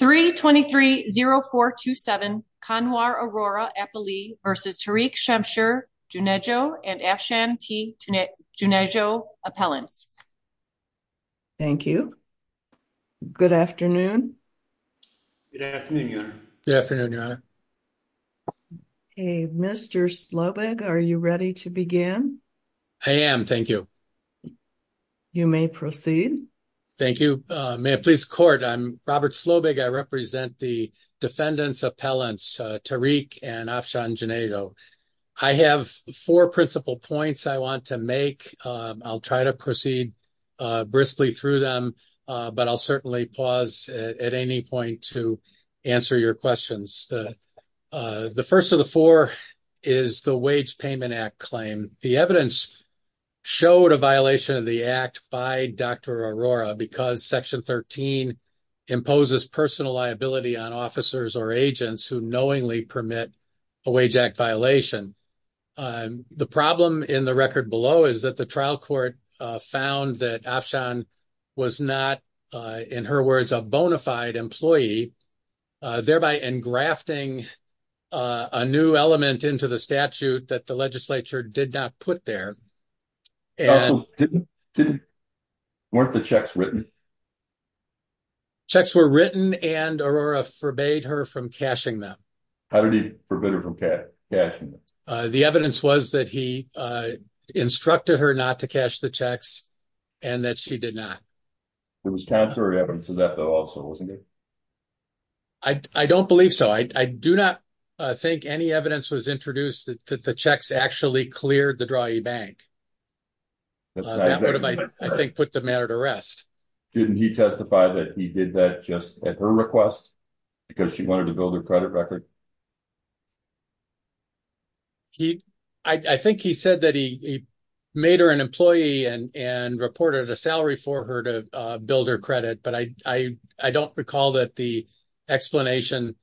323-0427 Kanwar Aurora Eppley v. Tariq Shamsher Junejo and Afshan T. Junejo Appellants. Thank you. Good afternoon. Good afternoon, Your Honor. Good afternoon, Your Honor. Okay, Mr. Slobig, are you ready to begin? I am, thank you. You may proceed. Thank you. May it please the Court, I'm Robert Slobig. I represent the defendants appellants Tariq and Afshan Junejo. I have four principal points I want to make. I'll try to proceed briskly through them, but I'll certainly pause at any point to answer your questions. The first of the four is the Wage Payment Act claim. The evidence showed a violation of the Wage Payment Act by Dr. Aurora because Section 13 imposes personal liability on officers or agents who knowingly permit a wage act violation. The problem in the record below is that the trial court found that Afshan was not, in her words, a bona fide employee, thereby engrafting a new into the statute that the legislature did not put there. Weren't the checks written? Checks were written and Aurora forbade her from cashing them. How did he forbid her from cashing them? The evidence was that he instructed her not to cash the checks and that she did not. It was contrary evidence to that though also, wasn't it? I don't believe so. I do not think any evidence was introduced that the checks actually cleared the Drahe Bank. That would have, I think, put the matter to rest. Didn't he testify that he did that just at her request because she wanted to build her credit record? I think he said that he made her an employee and reported a salary for her to build her credit, but I don't recall that the explanation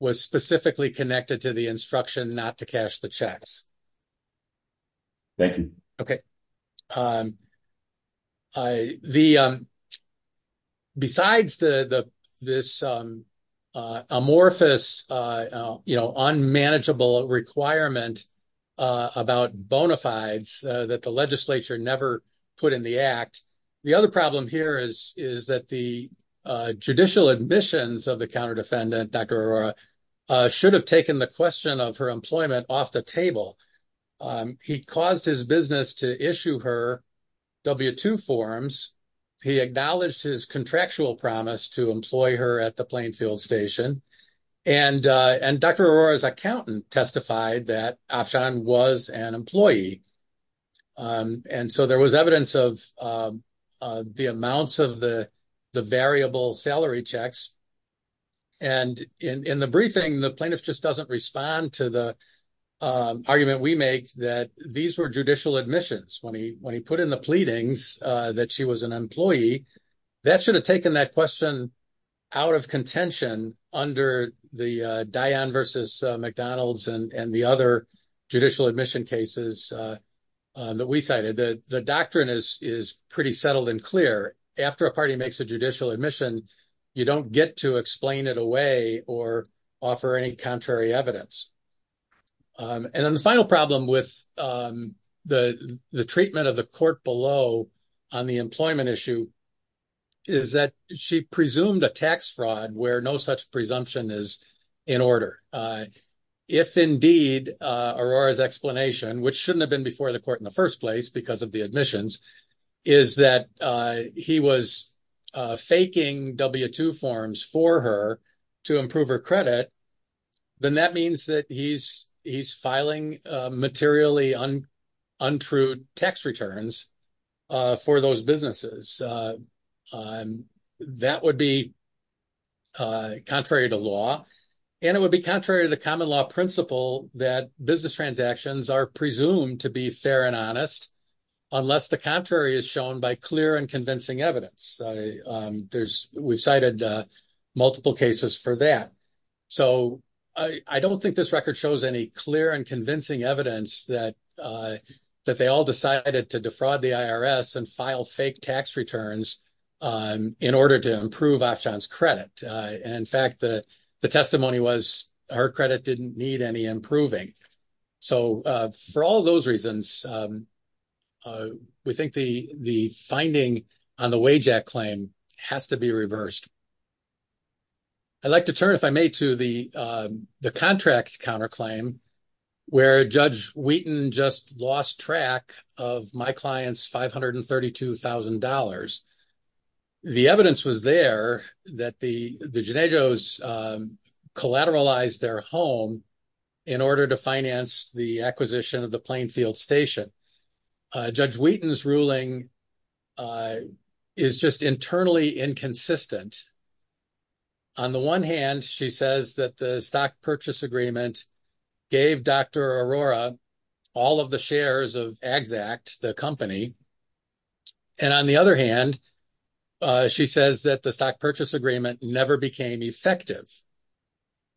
was specifically connected to the instruction not to cash the checks. Thank you. Besides this amorphous, unmanageable requirement about bona fides that the legislature never put in the act, the other problem here is that the judicial admissions of the counter-defendant, Dr. Aurora, should have taken the question of her employment off the table. He caused his business to issue her W-2 forms. He acknowledged his contractual promise to employ her at the Plainfield station. Dr. Aurora's accountant testified that Afshan was an employee. And so there was evidence of the amounts of the variable salary checks. And in the briefing, the plaintiff just doesn't respond to the argument we make that these were judicial admissions. When he put in the pleadings that she was an employee, that should have taken that question out of contention under the Dion versus McDonald's and the other judicial admission cases that we cited. The doctrine is pretty settled and clear. After a party makes a judicial admission, you don't get to explain it away or offer any contrary evidence. And then the final problem with the treatment of the court below on the employment issue is that she presumed a tax which shouldn't have been before the court in the first place because of the admissions, is that he was faking W-2 forms for her to improve her credit. Then that means that he's filing materially untrue tax returns for those businesses. That would be contrary to law. And it would be contrary to the common law principle that business transactions are presumed to be fair and honest unless the contrary is shown by clear and convincing evidence. We've cited multiple cases for that. So I don't think this record shows any clear and convincing evidence that they all decided to defraud the IRS and file fake tax returns in order to improve Afshan's credit. And in fact, the testimony was her credit didn't need any improving. So for all those reasons, we think the finding on the Wage Act claim has to be reversed. I'd like to turn, if I may, to the contract counterclaim where Judge Wheaton just lost track of my client's $532,000. The evidence was there that the Jenejos collateralized their home in order to finance the acquisition of the Plainfield Station. Judge Wheaton's ruling is just internally inconsistent. On the one hand, she says that the stock purchase agreement gave Dr. Arora all of the shares of Agzac, the company. And on the other hand, she says that the stock purchase agreement never became effective.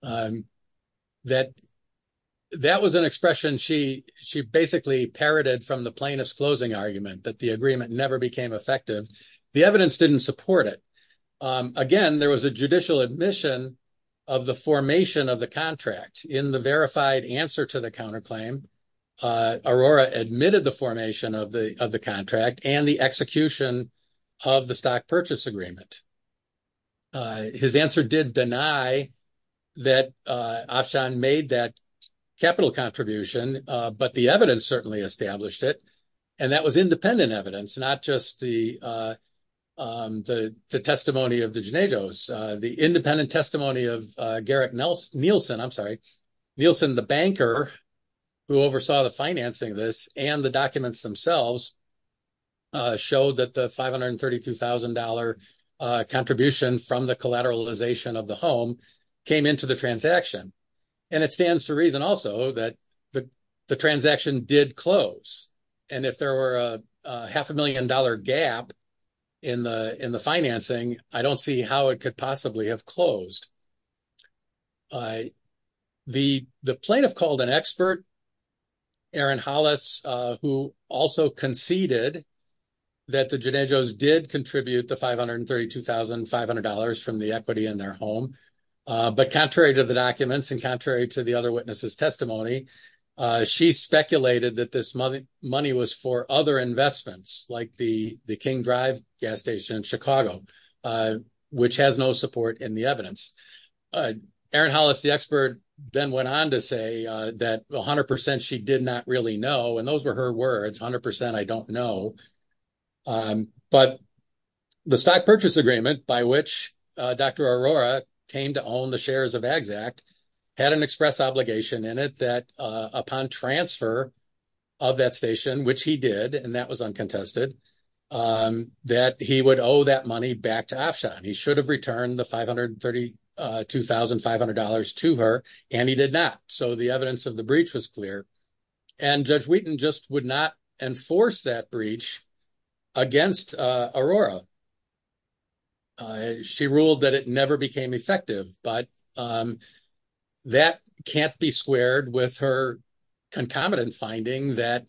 That was an expression she basically parroted from the plaintiff's closing argument, that the agreement never became effective. The evidence didn't support it. Again, there was a judicial admission of the formation of the contract. In the verified answer to the counterclaim, Arora admitted the formation of the contract and the execution of the stock purchase agreement. His answer did deny that Afshan made that capital contribution, but the evidence certainly established it. And that was independent evidence, not just the testimony of the Jenejos. The independent testimony of Garrick Nielsen, the banker who oversaw the financing of this, and the documents themselves showed that the $532,000 contribution from the collateralization of the home came into the transaction. And it stands to reason also that the transaction did close. And if there were a half a million dollar gap in the financing, I don't see how it could possibly have closed. The plaintiff called an expert, Aaron Hollis, who also conceded that the Jenejos did contribute the $532,500 from the equity in their home. But contrary to the documents and contrary to the other witnesses' testimony, she speculated that this money was for other investments, like the King Drive gas station in Chicago, which has no support in the evidence. Aaron Hollis, the expert, then went on to say that 100% she did not really know, and those were her words, 100% I don't know. But the stock purchase agreement by which Dr. Arora came to own the shares of Agzac had an express obligation in it that upon transfer of that station, which he did, and that was uncontested, that he would owe that money back to Afshan. He should have returned the $532,500 to her, and he did not. So the evidence of the breach was clear. And Judge Wheaton just would not enforce that breach against Arora. She ruled that it never became effective, but that can't be squared with her concomitant finding that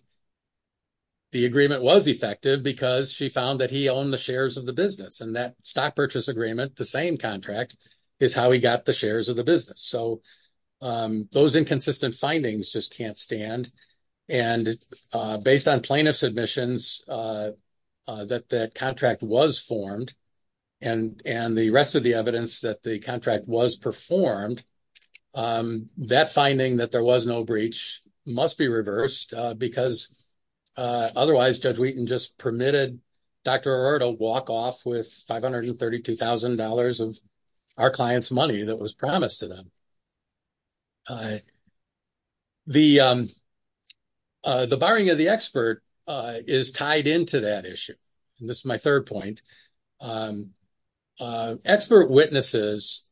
the agreement was effective because she found that he owned the shares of the business, and that stock purchase agreement, the same contract, is how he got the shares of the business. So those inconsistent findings just can't stand. And based on plaintiff's admissions, that that contract was formed, and the rest of the evidence that the contract was performed, that finding that there was no breach must be reversed because otherwise Judge Wheaton just permitted Dr. Arora to walk off with $532,000 of our client's money that was promised to them. All right. The barring of the expert is tied into that issue, and this is my third point. Expert witnesses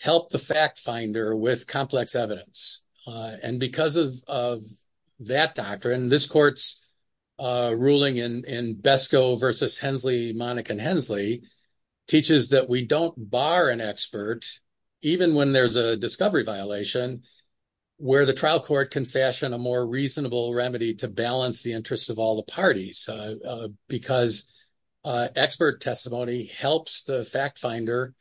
help the fact finder with complex evidence, and because of that doctrine, this court's ruling in Besco v. Hensley, Monica and Hensley, teaches that we don't bar an expert even when there's a discovery violation where the trial court can fashion a more reasonable remedy to balance the interests of all the parties because expert testimony helps the fact finder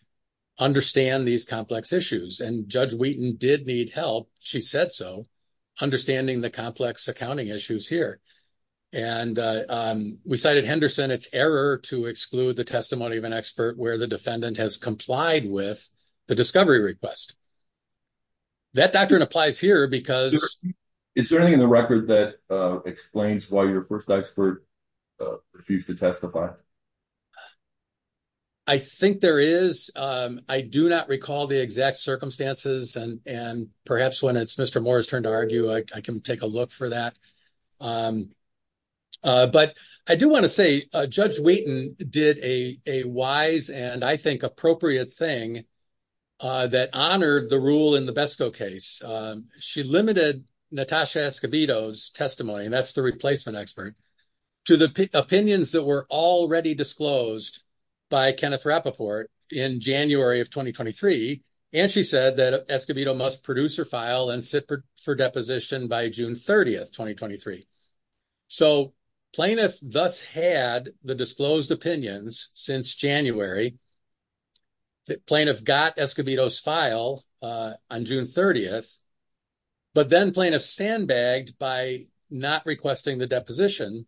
understand these complex issues. And Judge Wheaton did need help, she said so, understanding the complex accounting issues here. And we cited Henderson, it's error to exclude the testimony of an expert where the defendant has complied with the discovery request. That doctrine applies here because... Is there anything in the record that explains why your first expert refused to testify? I think there is. I do not recall the exact circumstances, and perhaps when it's Mr. Wheaton did a wise and I think appropriate thing that honored the rule in the Besco case. She limited Natasha Escobedo's testimony, and that's the replacement expert, to the opinions that were already disclosed by Kenneth Rappaport in January of 2023. And she said that Escobedo must produce her file and sit for deposition by June 30th, 2023. So plaintiff thus had the disclosed opinions since January. The plaintiff got Escobedo's file on June 30th, but then plaintiff sandbagged by not requesting the deposition.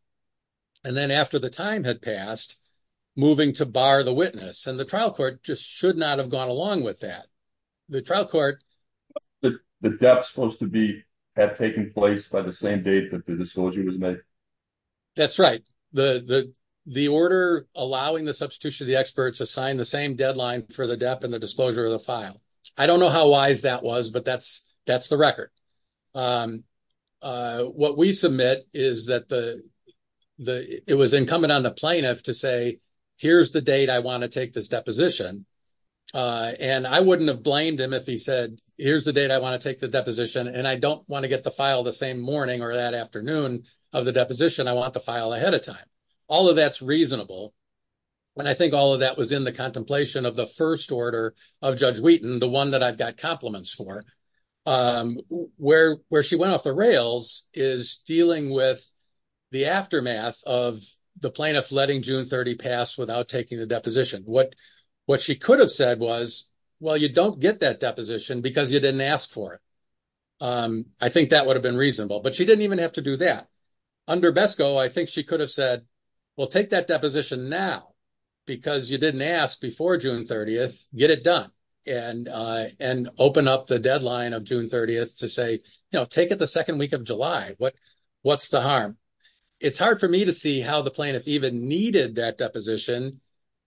And then after the time had passed, moving to bar the And the trial court just should not have gone along with that. The trial court... The depth supposed to be have taken place by the same date that the disclosure was made? That's right. The order allowing the substitution of the experts assigned the same deadline for the depth and the disclosure of the file. I don't know how wise that was, but that's the record. What we submit is that it was incumbent on the plaintiff to say, here's the date I want to take this deposition. And I wouldn't have blamed him if he said, here's the date I want to take the deposition, and I don't want to get the file the same morning or that afternoon of the deposition. I want the file ahead of time. All of that's reasonable. And I think all of that was in the contemplation of the first order of Judge Wheaton, the one that I've got compliments for. Where she went off the rails is dealing with the aftermath of the plaintiff letting June 30 pass without taking the deposition. What she could have said was, well, you don't get that deposition because you didn't ask for it. I think that would have been reasonable, but she didn't even have to do that. Under BESCO, I think she could have said, well, take that deposition now because you didn't ask before June 30th, get it done. And open up the deadline of June 30th to say, you know, the second week of July, what's the harm? It's hard for me to see how the plaintiff even needed that deposition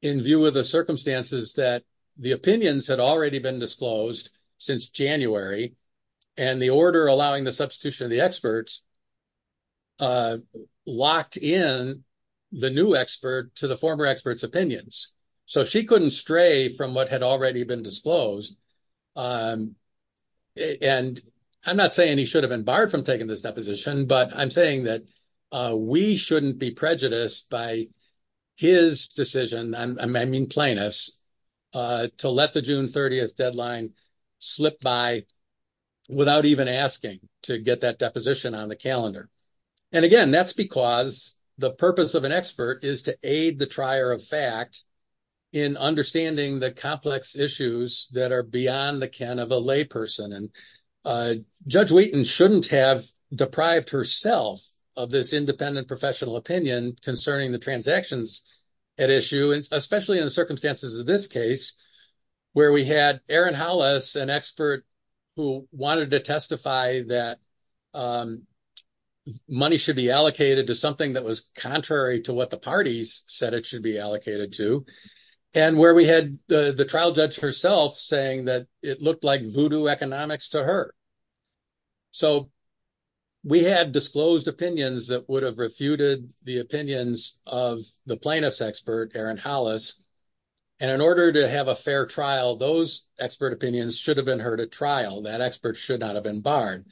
in view of the circumstances that the opinions had already been disclosed since January and the order allowing the substitution of the experts locked in the new expert to the former expert's opinions. So she couldn't stray from what had already been disclosed. And I'm not saying he should have been barred from taking this deposition, but I'm saying that we shouldn't be prejudiced by his decision, I mean plaintiffs, to let the June 30th deadline slip by without even asking to get that deposition on the calendar. And again, that's because the purpose of an expert is to aid the trier of fact in understanding the complex issues that are beyond the ken of a lay person. And Judge Wheaton shouldn't have deprived herself of this independent professional opinion concerning the transactions at issue, especially in the circumstances of this case, where we had Aaron Hollis, an expert who wanted to testify that money should be allocated to contrary to what the parties said it should be allocated to, and where we had the trial judge herself saying that it looked like voodoo economics to her. So we had disclosed opinions that would have refuted the opinions of the plaintiff's expert, Aaron Hollis, and in order to have a fair trial, those expert opinions should have been heard at trial. That expert should not have been barred,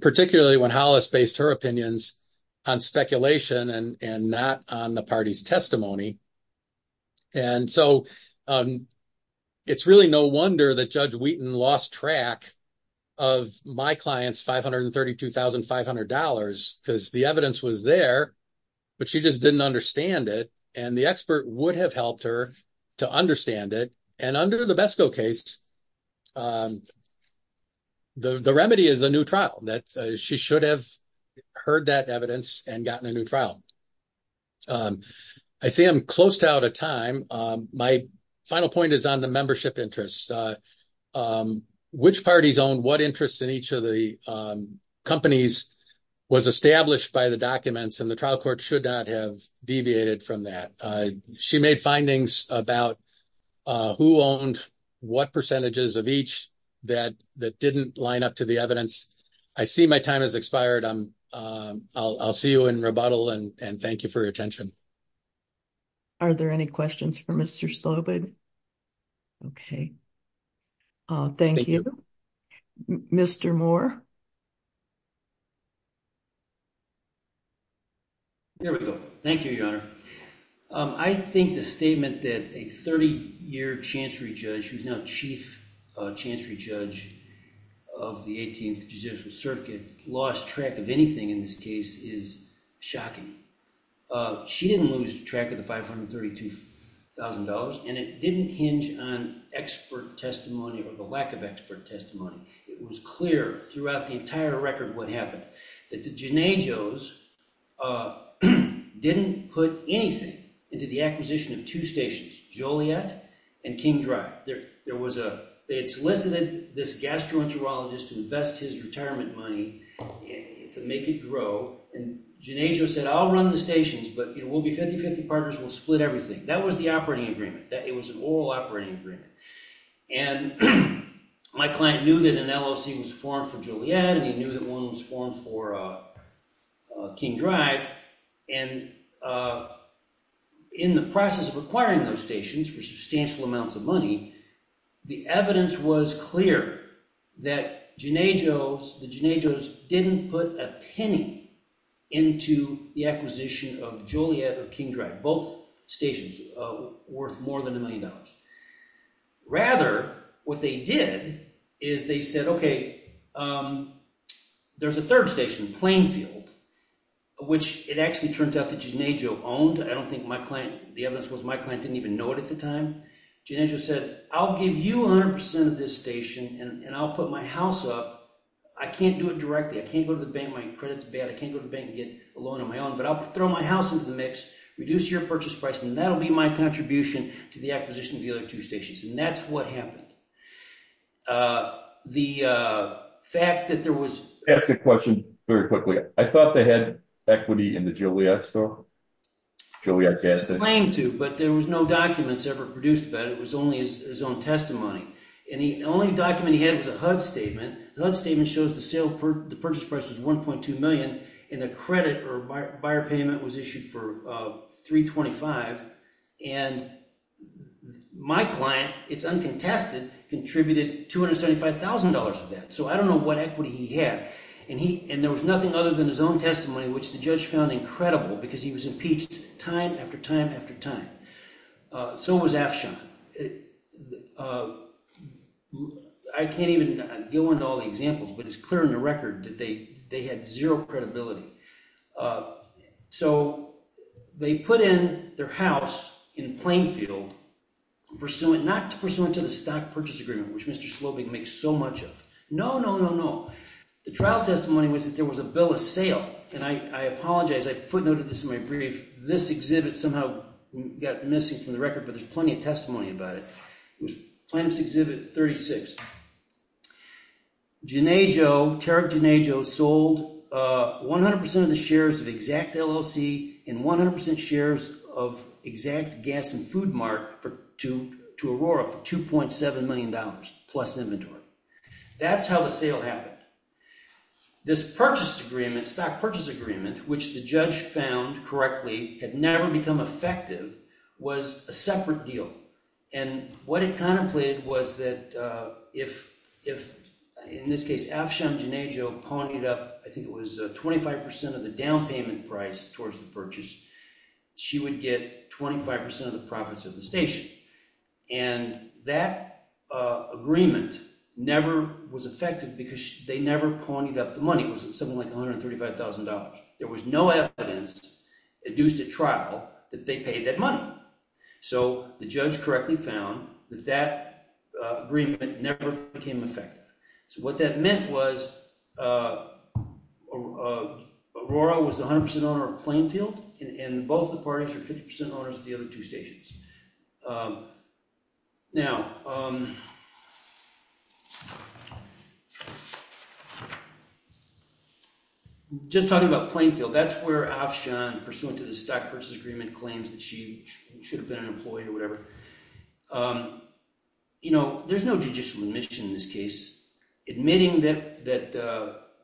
particularly when Hollis based her opinions on speculation and not on the party's testimony. And so it's really no wonder that Judge Wheaton lost track of my client's $532,500, because the evidence was there, but she just didn't understand it, and the expert would have helped her to understand it. And under the BESCO case, the remedy is a new trial, that she should have heard that evidence and gotten a new trial. I see I'm close to out of time. My final point is on the membership interests. Which parties owned what interest in each of the companies was established by the documents, and the trial court should not have deviated from that. She made findings about who owned what percentages of each that didn't line up to the evidence. I see my time has expired. I'll see you in rebuttal, and thank you for your attention. Are there any questions for Mr. Slobod? Okay. Thank you. Mr. Moore. There we go. Thank you, Your Honor. I think the statement that a 30-year chancery judge, who's now chief chancery judge of the 18th Judicial Circuit, lost track of anything in this case is shocking. She didn't lose track of the $532,000, and it didn't hinge on expert testimony or the lack of expert testimony. It was clear throughout the entire record what happened, that the Gennagos didn't put anything into the acquisition of two stations, Joliet and King Drive. They had solicited this gastroenterologist to invest his retirement money to make it grow, and Gennagos said, I'll run the stations, but it will be 50-50 partners. We'll split everything. That was the operating agreement. It was an oral operating agreement, and my client knew that an LLC was formed for Joliet, and he knew that one was formed for King Drive, and in the process of acquiring those stations for substantial amounts of money, the evidence was clear that the Gennagos didn't put a penny into the acquisition of Joliet or King Drive, both stations worth more than $1 million. Rather, what they did is they said, okay, there's a third station, Plainfield, which it actually turns out that Gennagos owned. I don't think my client, the evidence was my client didn't even know it at the time. Gennagos said, I'll give you 100% of this station, and I'll put my house up. I can't do it directly. I can't go to the bank. My credit's bad. I can't go to the bank and get a loan on my own, but I'll throw my house into the mix, reduce your purchase price, and that'll be my contribution to the acquisition of the other two stations, and that's what happened. The fact that there was- Ask a question very quickly. I thought they had equity in the Joliet store, Joliet gas station. Claimed to, but there was no documents ever produced about it. It was only his own testimony, and the only document he had was a HUD statement. HUD statement shows the purchase price was $1.2 in the credit, or buyer payment was issued for $325, and my client, it's uncontested, contributed $275,000 of that, so I don't know what equity he had, and there was nothing other than his own testimony, which the judge found incredible because he was impeached time after time after time. So was Afshan. I can't even go into all the examples, but it's clear in the Joliet store that he had a lot of credibility. So they put in their house in Plainfield, not pursuant to the stock purchase agreement, which Mr. Slobing makes so much of. No, no, no, no. The trial testimony was that there was a bill of sale, and I apologize. I footnoted this in my brief. This exhibit somehow got missing from the record, but there's plenty of testimony about it. It was Plaintiff's Exhibit 36. Jonejo, Terry Jonejo, sold 100% of the shares of Exact LLC and 100% shares of Exact Gas and Food Mart to Aurora for $2.7 million plus inventory. That's how the sale happened. This purchase agreement, stock purchase agreement, which the judge found correctly had never become effective, was a separate deal. And what it contemplated was that if, in this case, Afshan Jonejo pawned it up, I think it was 25% of the down payment price towards the purchase, she would get 25% of the profits of the station. And that agreement never was effective because they never pawned up the money. It was something like $135,000. There was no evidence induced at trial that they paid that money. So the judge correctly found that that agreement never became effective. So what that meant was Aurora was the 100% owner of Plainfield, and both the parties were 50% owners of the other two stations. Now, just talking about Plainfield, that's where Afshan, pursuant to the stock purchase agreement, claims that she should have been an employee or whatever. There's no judicial admission in this case. Admitting that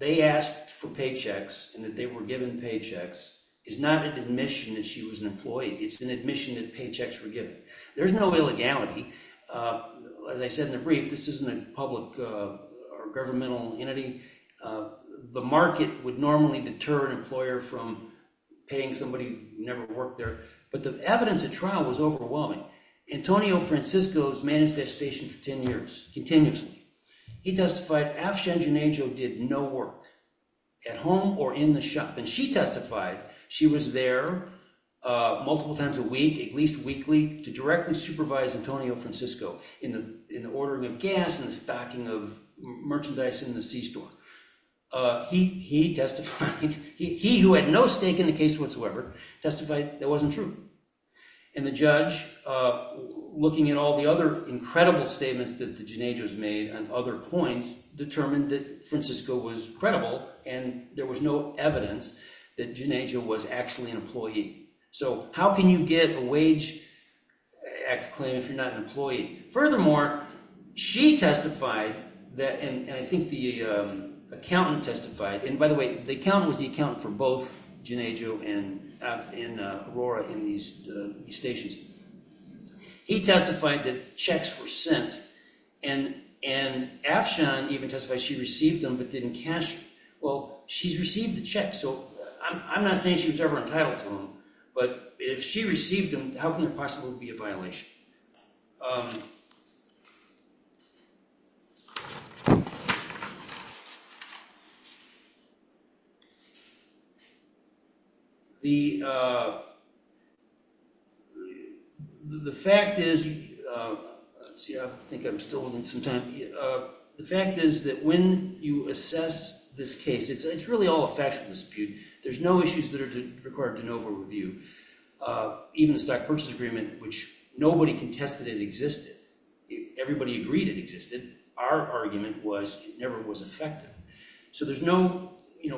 they asked for paychecks and that they were given paychecks is not an employee. It's an admission that paychecks were given. There's no illegality. As I said in the brief, this isn't a public or governmental entity. The market would normally deter an employer from paying somebody who never worked there. But the evidence at trial was overwhelming. Antonio Francisco has managed that station for 10 years, continuously. He testified Afshan Jonejo did no work at home or in the shop. And she testified she was there multiple times a week, at least weekly, to directly supervise Antonio Francisco in the ordering of gas and the stocking of merchandise in the C store. He, who had no stake in the case whatsoever, testified that wasn't true. And the judge, looking at all the other incredible statements that the Jonejos made on other points, determined that Francisco was credible and there was no evidence that Jonejo was actually an employee. So how can you give a wage claim if you're not an employee? Furthermore, she testified that, and I think the accountant testified, and by the way, the accountant was the accountant for both Jonejo and Aurora in these stations. He testified that checks were sent. And Afshan even testified she received them but didn't cash. Well, she's received the check, so I'm not saying she was ever entitled to them. But if she received them, how can it possibly be a violation? The fact is that when you assess this case, it's really all a factual dispute. There's no issues that are required to NOVA review. Even the stock purchase agreement, which nobody contested it existed. Everybody agreed it existed. Our argument was it never was effective. So there's no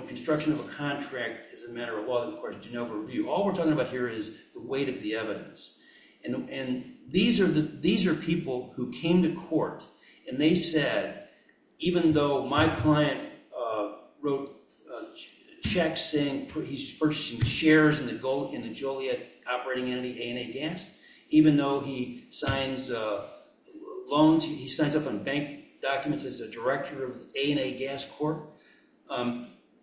construction of a contract as a matter of law that requires a NOVA review. All we're talking about here is the weight of the evidence. And these are people who came to court and they said, even though my client wrote checks saying he's purchasing shares in the Joliet operating entity A&A Gas, even though he signs up on bank documents as a director of A&A Gas Corp,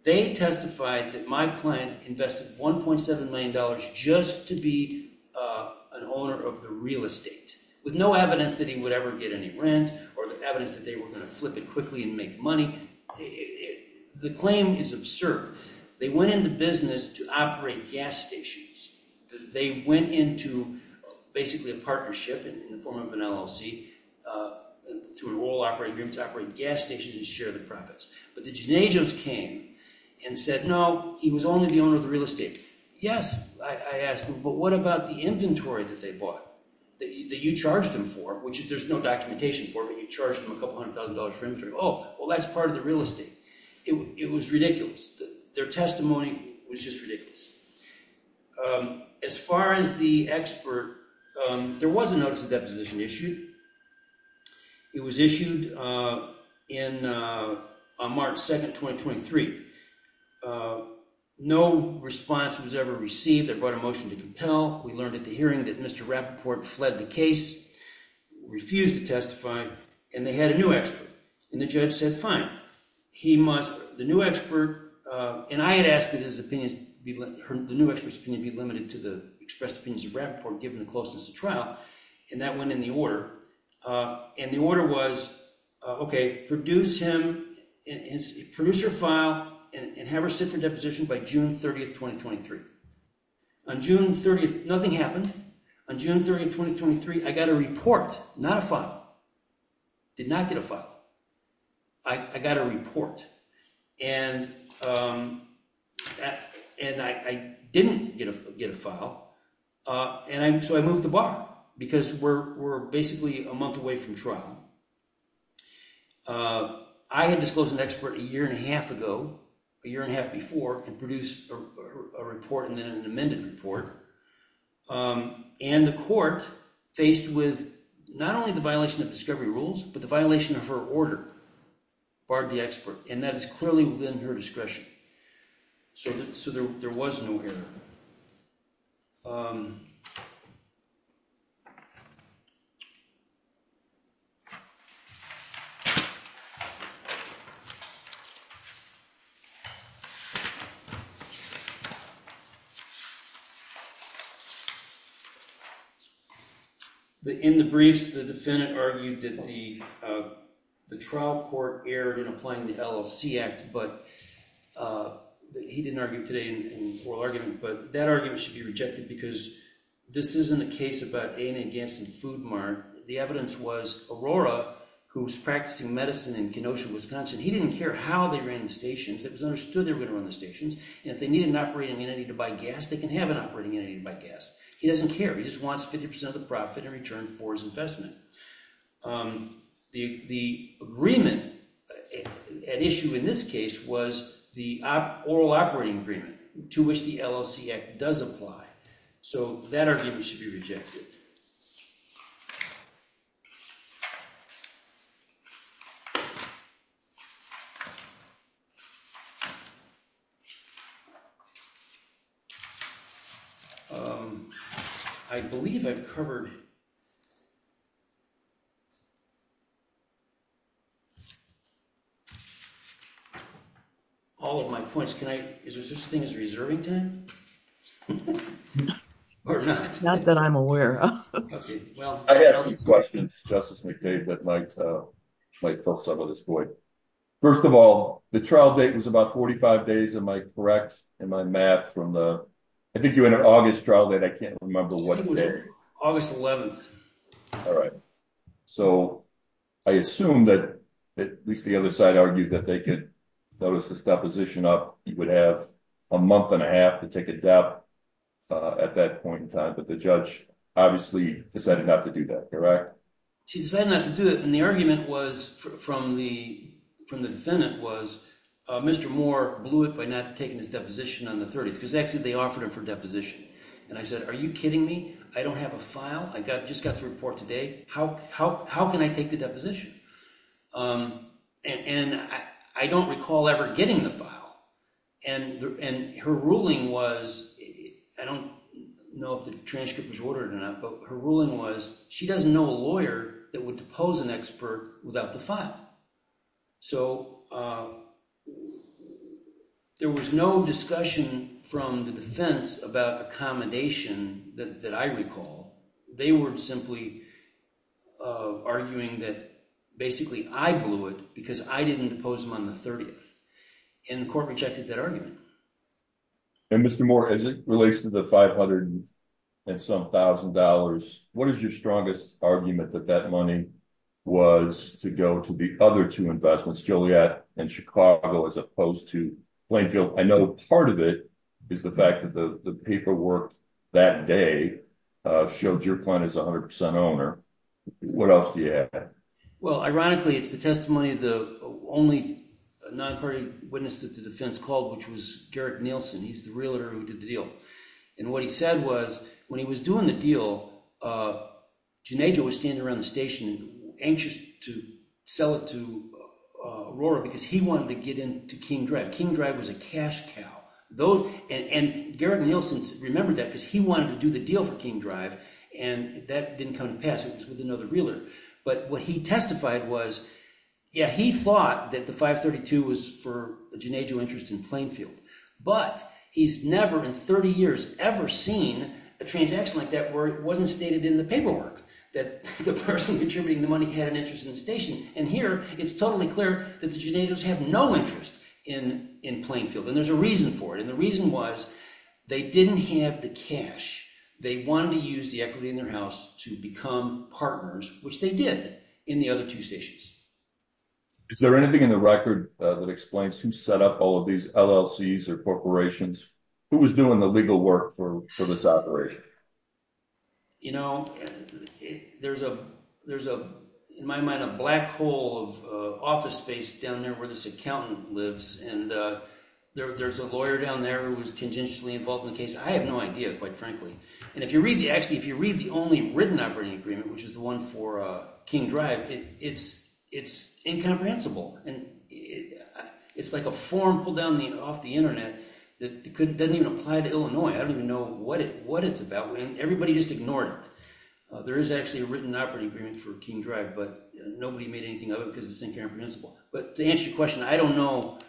they testified that my client invested $1.7 million just to be an owner of the real estate with no evidence that he would ever get any rent or the evidence that they were going to flip it quickly and make money. The claim is absurd. They went into business to operate gas stations. They went into basically a partnership in the form of an LLC to operate gas stations and share the profits. But the Genajos came and said, no, he was only the owner of the real estate. Yes, I asked them, but what about the inventory that they bought? That you charged them for, which there's no documentation for, but you charged them a couple hundred thousand dollars for inventory. Oh, well, that's part of the real estate. It was ridiculous. Their testimony was just ridiculous. As far as the expert, there was a notice of deposition issued. It was issued on March 2nd, 2023. No response was ever received. They brought a motion to compel. We learned at the hearing that Mr. Rappaport fled the case, refused to testify, and they had a new expert. The judge said, fine. The new expert, and I had asked that the new expert's opinion be limited to the expressed opinions of Rappaport given the closeness of trial, and that went in the order. The order was, okay, produce your file and have her sit for deposition by June 30th, 2023. Nothing happened. On June 30th, 2023, I got a report, not a file. Did not get a file. I got a report, and I didn't get a file, and so I moved the bar because we're basically a month away from trial. I had disclosed an expert a year and a half ago, a year and a half before, and produced a report and then an amended report, and the court faced with not only the violation of discovery rules, but the violation of her order barred the expert, and that is clearly within her discretion, so there was no error. In the briefs, the defendant argued that the trial court erred in applying the LLC Act, but he didn't argue today in oral argument, but that argument should be rejected because this isn't a case about ANA gassing Food Mart. The evidence was Aurora, who's practicing medicine in Kenosha, Wisconsin. He didn't care how they ran the stations. It was understood they were going to run the stations, and if they needed an operating entity to buy gas, they can have an operating entity to buy gas. He doesn't care. He just wants 50% of the profit in return for his investment. The agreement at issue in this case was the oral operating agreement to which the LLC Act does apply, so that argument should be rejected. I believe I've covered all of my points. Is there such a thing as reserving time or not? It's not that I'm aware of. I have some questions, Justice McCabe, that might fill some of this void. First of all, the trial date was about 45 days. Am I correct? Am I mad? I think you had an August trial date. I think it was August 11th. I assume that at least the other side argued that they could notice this deposition up. You would have a month and a half to take a doubt at that point in time, but the judge obviously decided not to do that. Correct? She decided not to do it, and the argument from the defendant was Mr. Moore blew it by not taking this deposition on the 30th because actually they offered him for a deposition, and I said, are you kidding me? I don't have a file. I just got the report today. How can I take the deposition? I don't recall ever getting the file, and her ruling was, I don't know if the transcript was ordered or not, but her ruling was she doesn't know a lawyer that would depose an expert without the file. So there was no discussion from the defense about accommodation that I recall. They were simply arguing that basically I blew it because I didn't depose him on the 30th, and the court rejected that argument. And Mr. Moore, as it relates to the 500 and some thousand dollars, what is your strongest argument that that money was to go to the other two investments, Joliet and Chicago, as opposed to Plainfield? I know part of it is the fact that the paperwork that day showed your client is 100% owner. What else do you have? Well, ironically, it's the testimony of the only non-party witness that the defense called, which was Garrett Nielsen. He's the realtor who did the deal, and what he said was when he was doing the deal, Jonejo was standing around the station anxious to sell it to Aurora because he wanted to get into King Drive. King Drive was a cash cow, and Garrett Nielsen remembered that because he wanted to do the deal for King Drive, and that didn't come to pass. It was with another realtor, but what he testified was, yeah, he thought that the 532 was for Jonejo interest in Plainfield, but he's never in 30 years ever seen a transaction like that where it wasn't stated in the paperwork that the person contributing the money had an interest in the station, and here it's totally clear that the Jonejos have no interest in Plainfield, and there's a reason for it, and the reason was they didn't have the cash. They wanted to use the equity in their house to become partners, which they did in the other two stations. Is there anything in the record that explains who set up all of these LLCs or corporations? Who was doing the legal work for this operation? You know, there's a, in my mind, a black hole of office space down there where this accountant lives, and there's a lawyer down there who was tangentially involved in the case. I have no idea, quite frankly, and if you read the, actually, if you read the only written operating agreement, which is the one for King Drive, it's incomprehensible, and it's like a form pulled down off the internet that doesn't even apply to Illinois. I don't even know what it's about. Everybody just ignored it. There is actually a written operating agreement for King Drive, but nobody made anything of it because it's incomprehensible, but to answer your question, I don't know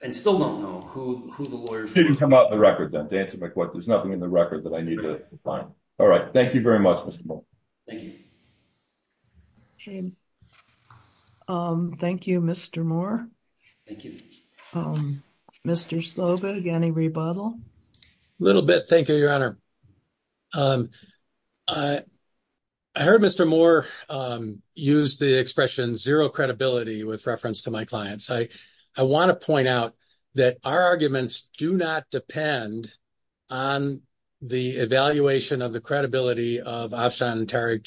and still don't know who the lawyers were. It didn't come out in the record, then, to answer my question. There's nothing in the record that I need to find. All right, thank you very much, Mr. Moore. Thank you. Okay. Thank you, Mr. Moore. Thank you. Mr. Slobod, any rebuttal? A little bit. Thank you, Your Honor. I heard Mr. Moore use the expression zero credibility with reference to my clients. I want to point out that our arguments do not depend on the evaluation of the credibility of Afshan Tariq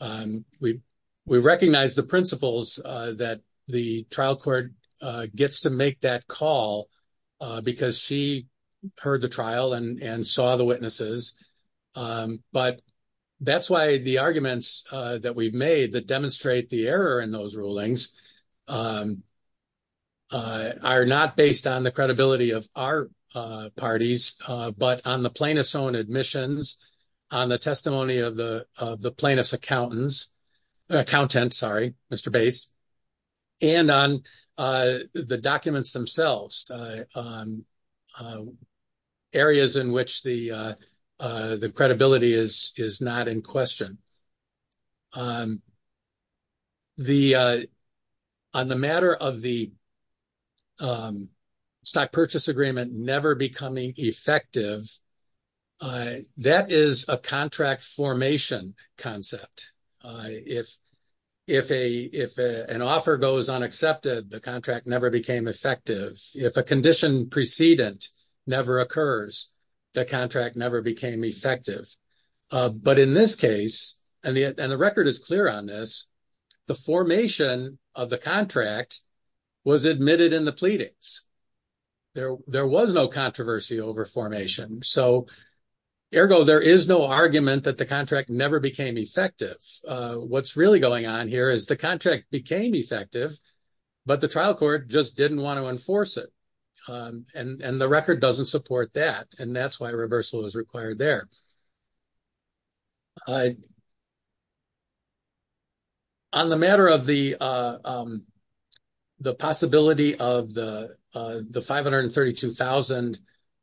Junaid. We recognize the principles that the trial court gets to make that call because she heard the trial and saw the witnesses, but that's why the arguments that we've made that demonstrate the error in those rulings are not based on the credibility of our parties, but on the plaintiff's own admissions, on the testimony of the plaintiff's accountants, sorry, Mr. Bates, and on the documents themselves, areas in which the credibility is not in question. On the matter of the stock purchase agreement never becoming effective, that is a contract formation concept. If an offer goes unaccepted, the contract never became effective. If a condition precedent never occurs, the contract never became effective. But in this case, and the record is clear on this, the formation of the contract was admitted in the pleadings. There was no controversy over formation. So, ergo, there is no argument that the contract never became effective. What's really going on here is the contract became effective, but the trial court just didn't want to enforce it. And the record doesn't support that, and that's why reversal is required there. On the matter of the possibility of the 532,000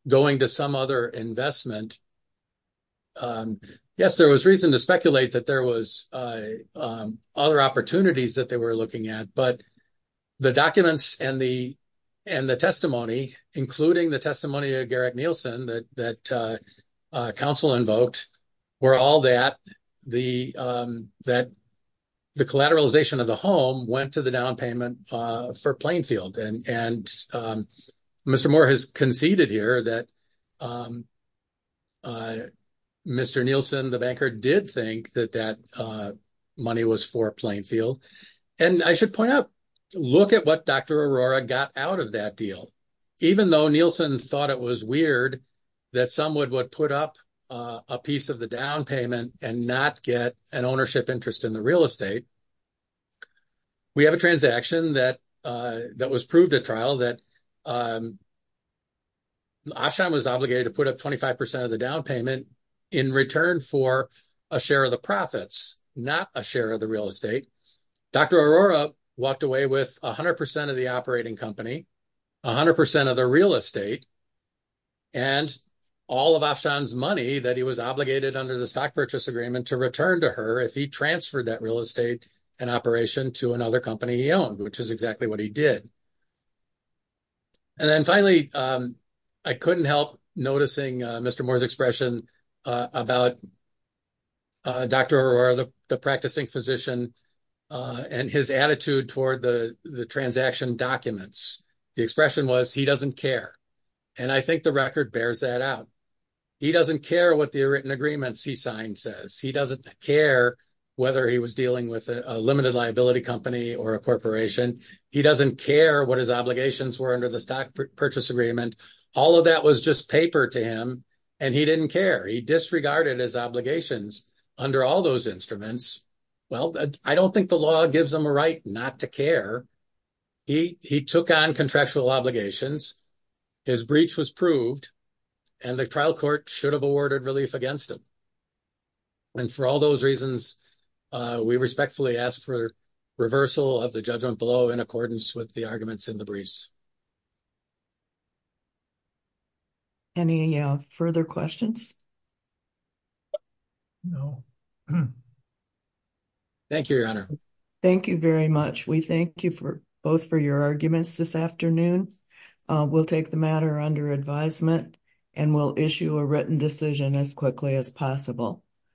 going to some other investment, yes, there was reason to speculate that there was other opportunities that they were looking at, but the documents and the testimony, including the testimony of Garrick Nielsen that counsel invoked, were all that the collateralization of the home went to the down payment for Plainfield. And Mr. Moore has conceded here that Mr. Nielsen, the banker, did think that that money was for Plainfield. And I should point out, look at what Dr. Aurora got out of that deal. Even though Nielsen thought it was weird that someone would put up a piece of the down payment and not get an ownership interest in the real estate, we have a transaction that was proved at trial that Afshan was obligated to put up 25% of the down payment in return for a share of the profits, not a share of the real estate. Dr. Aurora walked away with 100% of the operating company, 100% of the real estate, and all of Afshan's money that he was obligated under the stock purchase agreement to return to her if he transferred that real estate and operation to another company he owned, which is exactly what he did. And then finally, I couldn't help noticing Mr. Moore's expression about Dr. Aurora, the practicing physician, and his attitude toward the transaction documents. The expression was, he doesn't care. And I think the record bears that out. He doesn't care what the written agreements he signed says. He doesn't care whether he was dealing with a limited liability company or a corporation. He doesn't care what his obligations were under the stock purchase agreement. All of that was just paper to him, and he didn't care. He disregarded his obligations under all those instruments. Well, I don't think the law gives them a right not to care. He took on contractual obligations. His breach was proved, and the trial court should have awarded relief against him. And for all those reasons, we respectfully ask for reversal of the judgment below in accordance with the arguments in the briefs. Any further questions? No. Thank you, Your Honor. Thank you very much. We thank you both for your arguments this afternoon. We'll take the matter under advisement, and we'll issue a written decision as quickly as possible.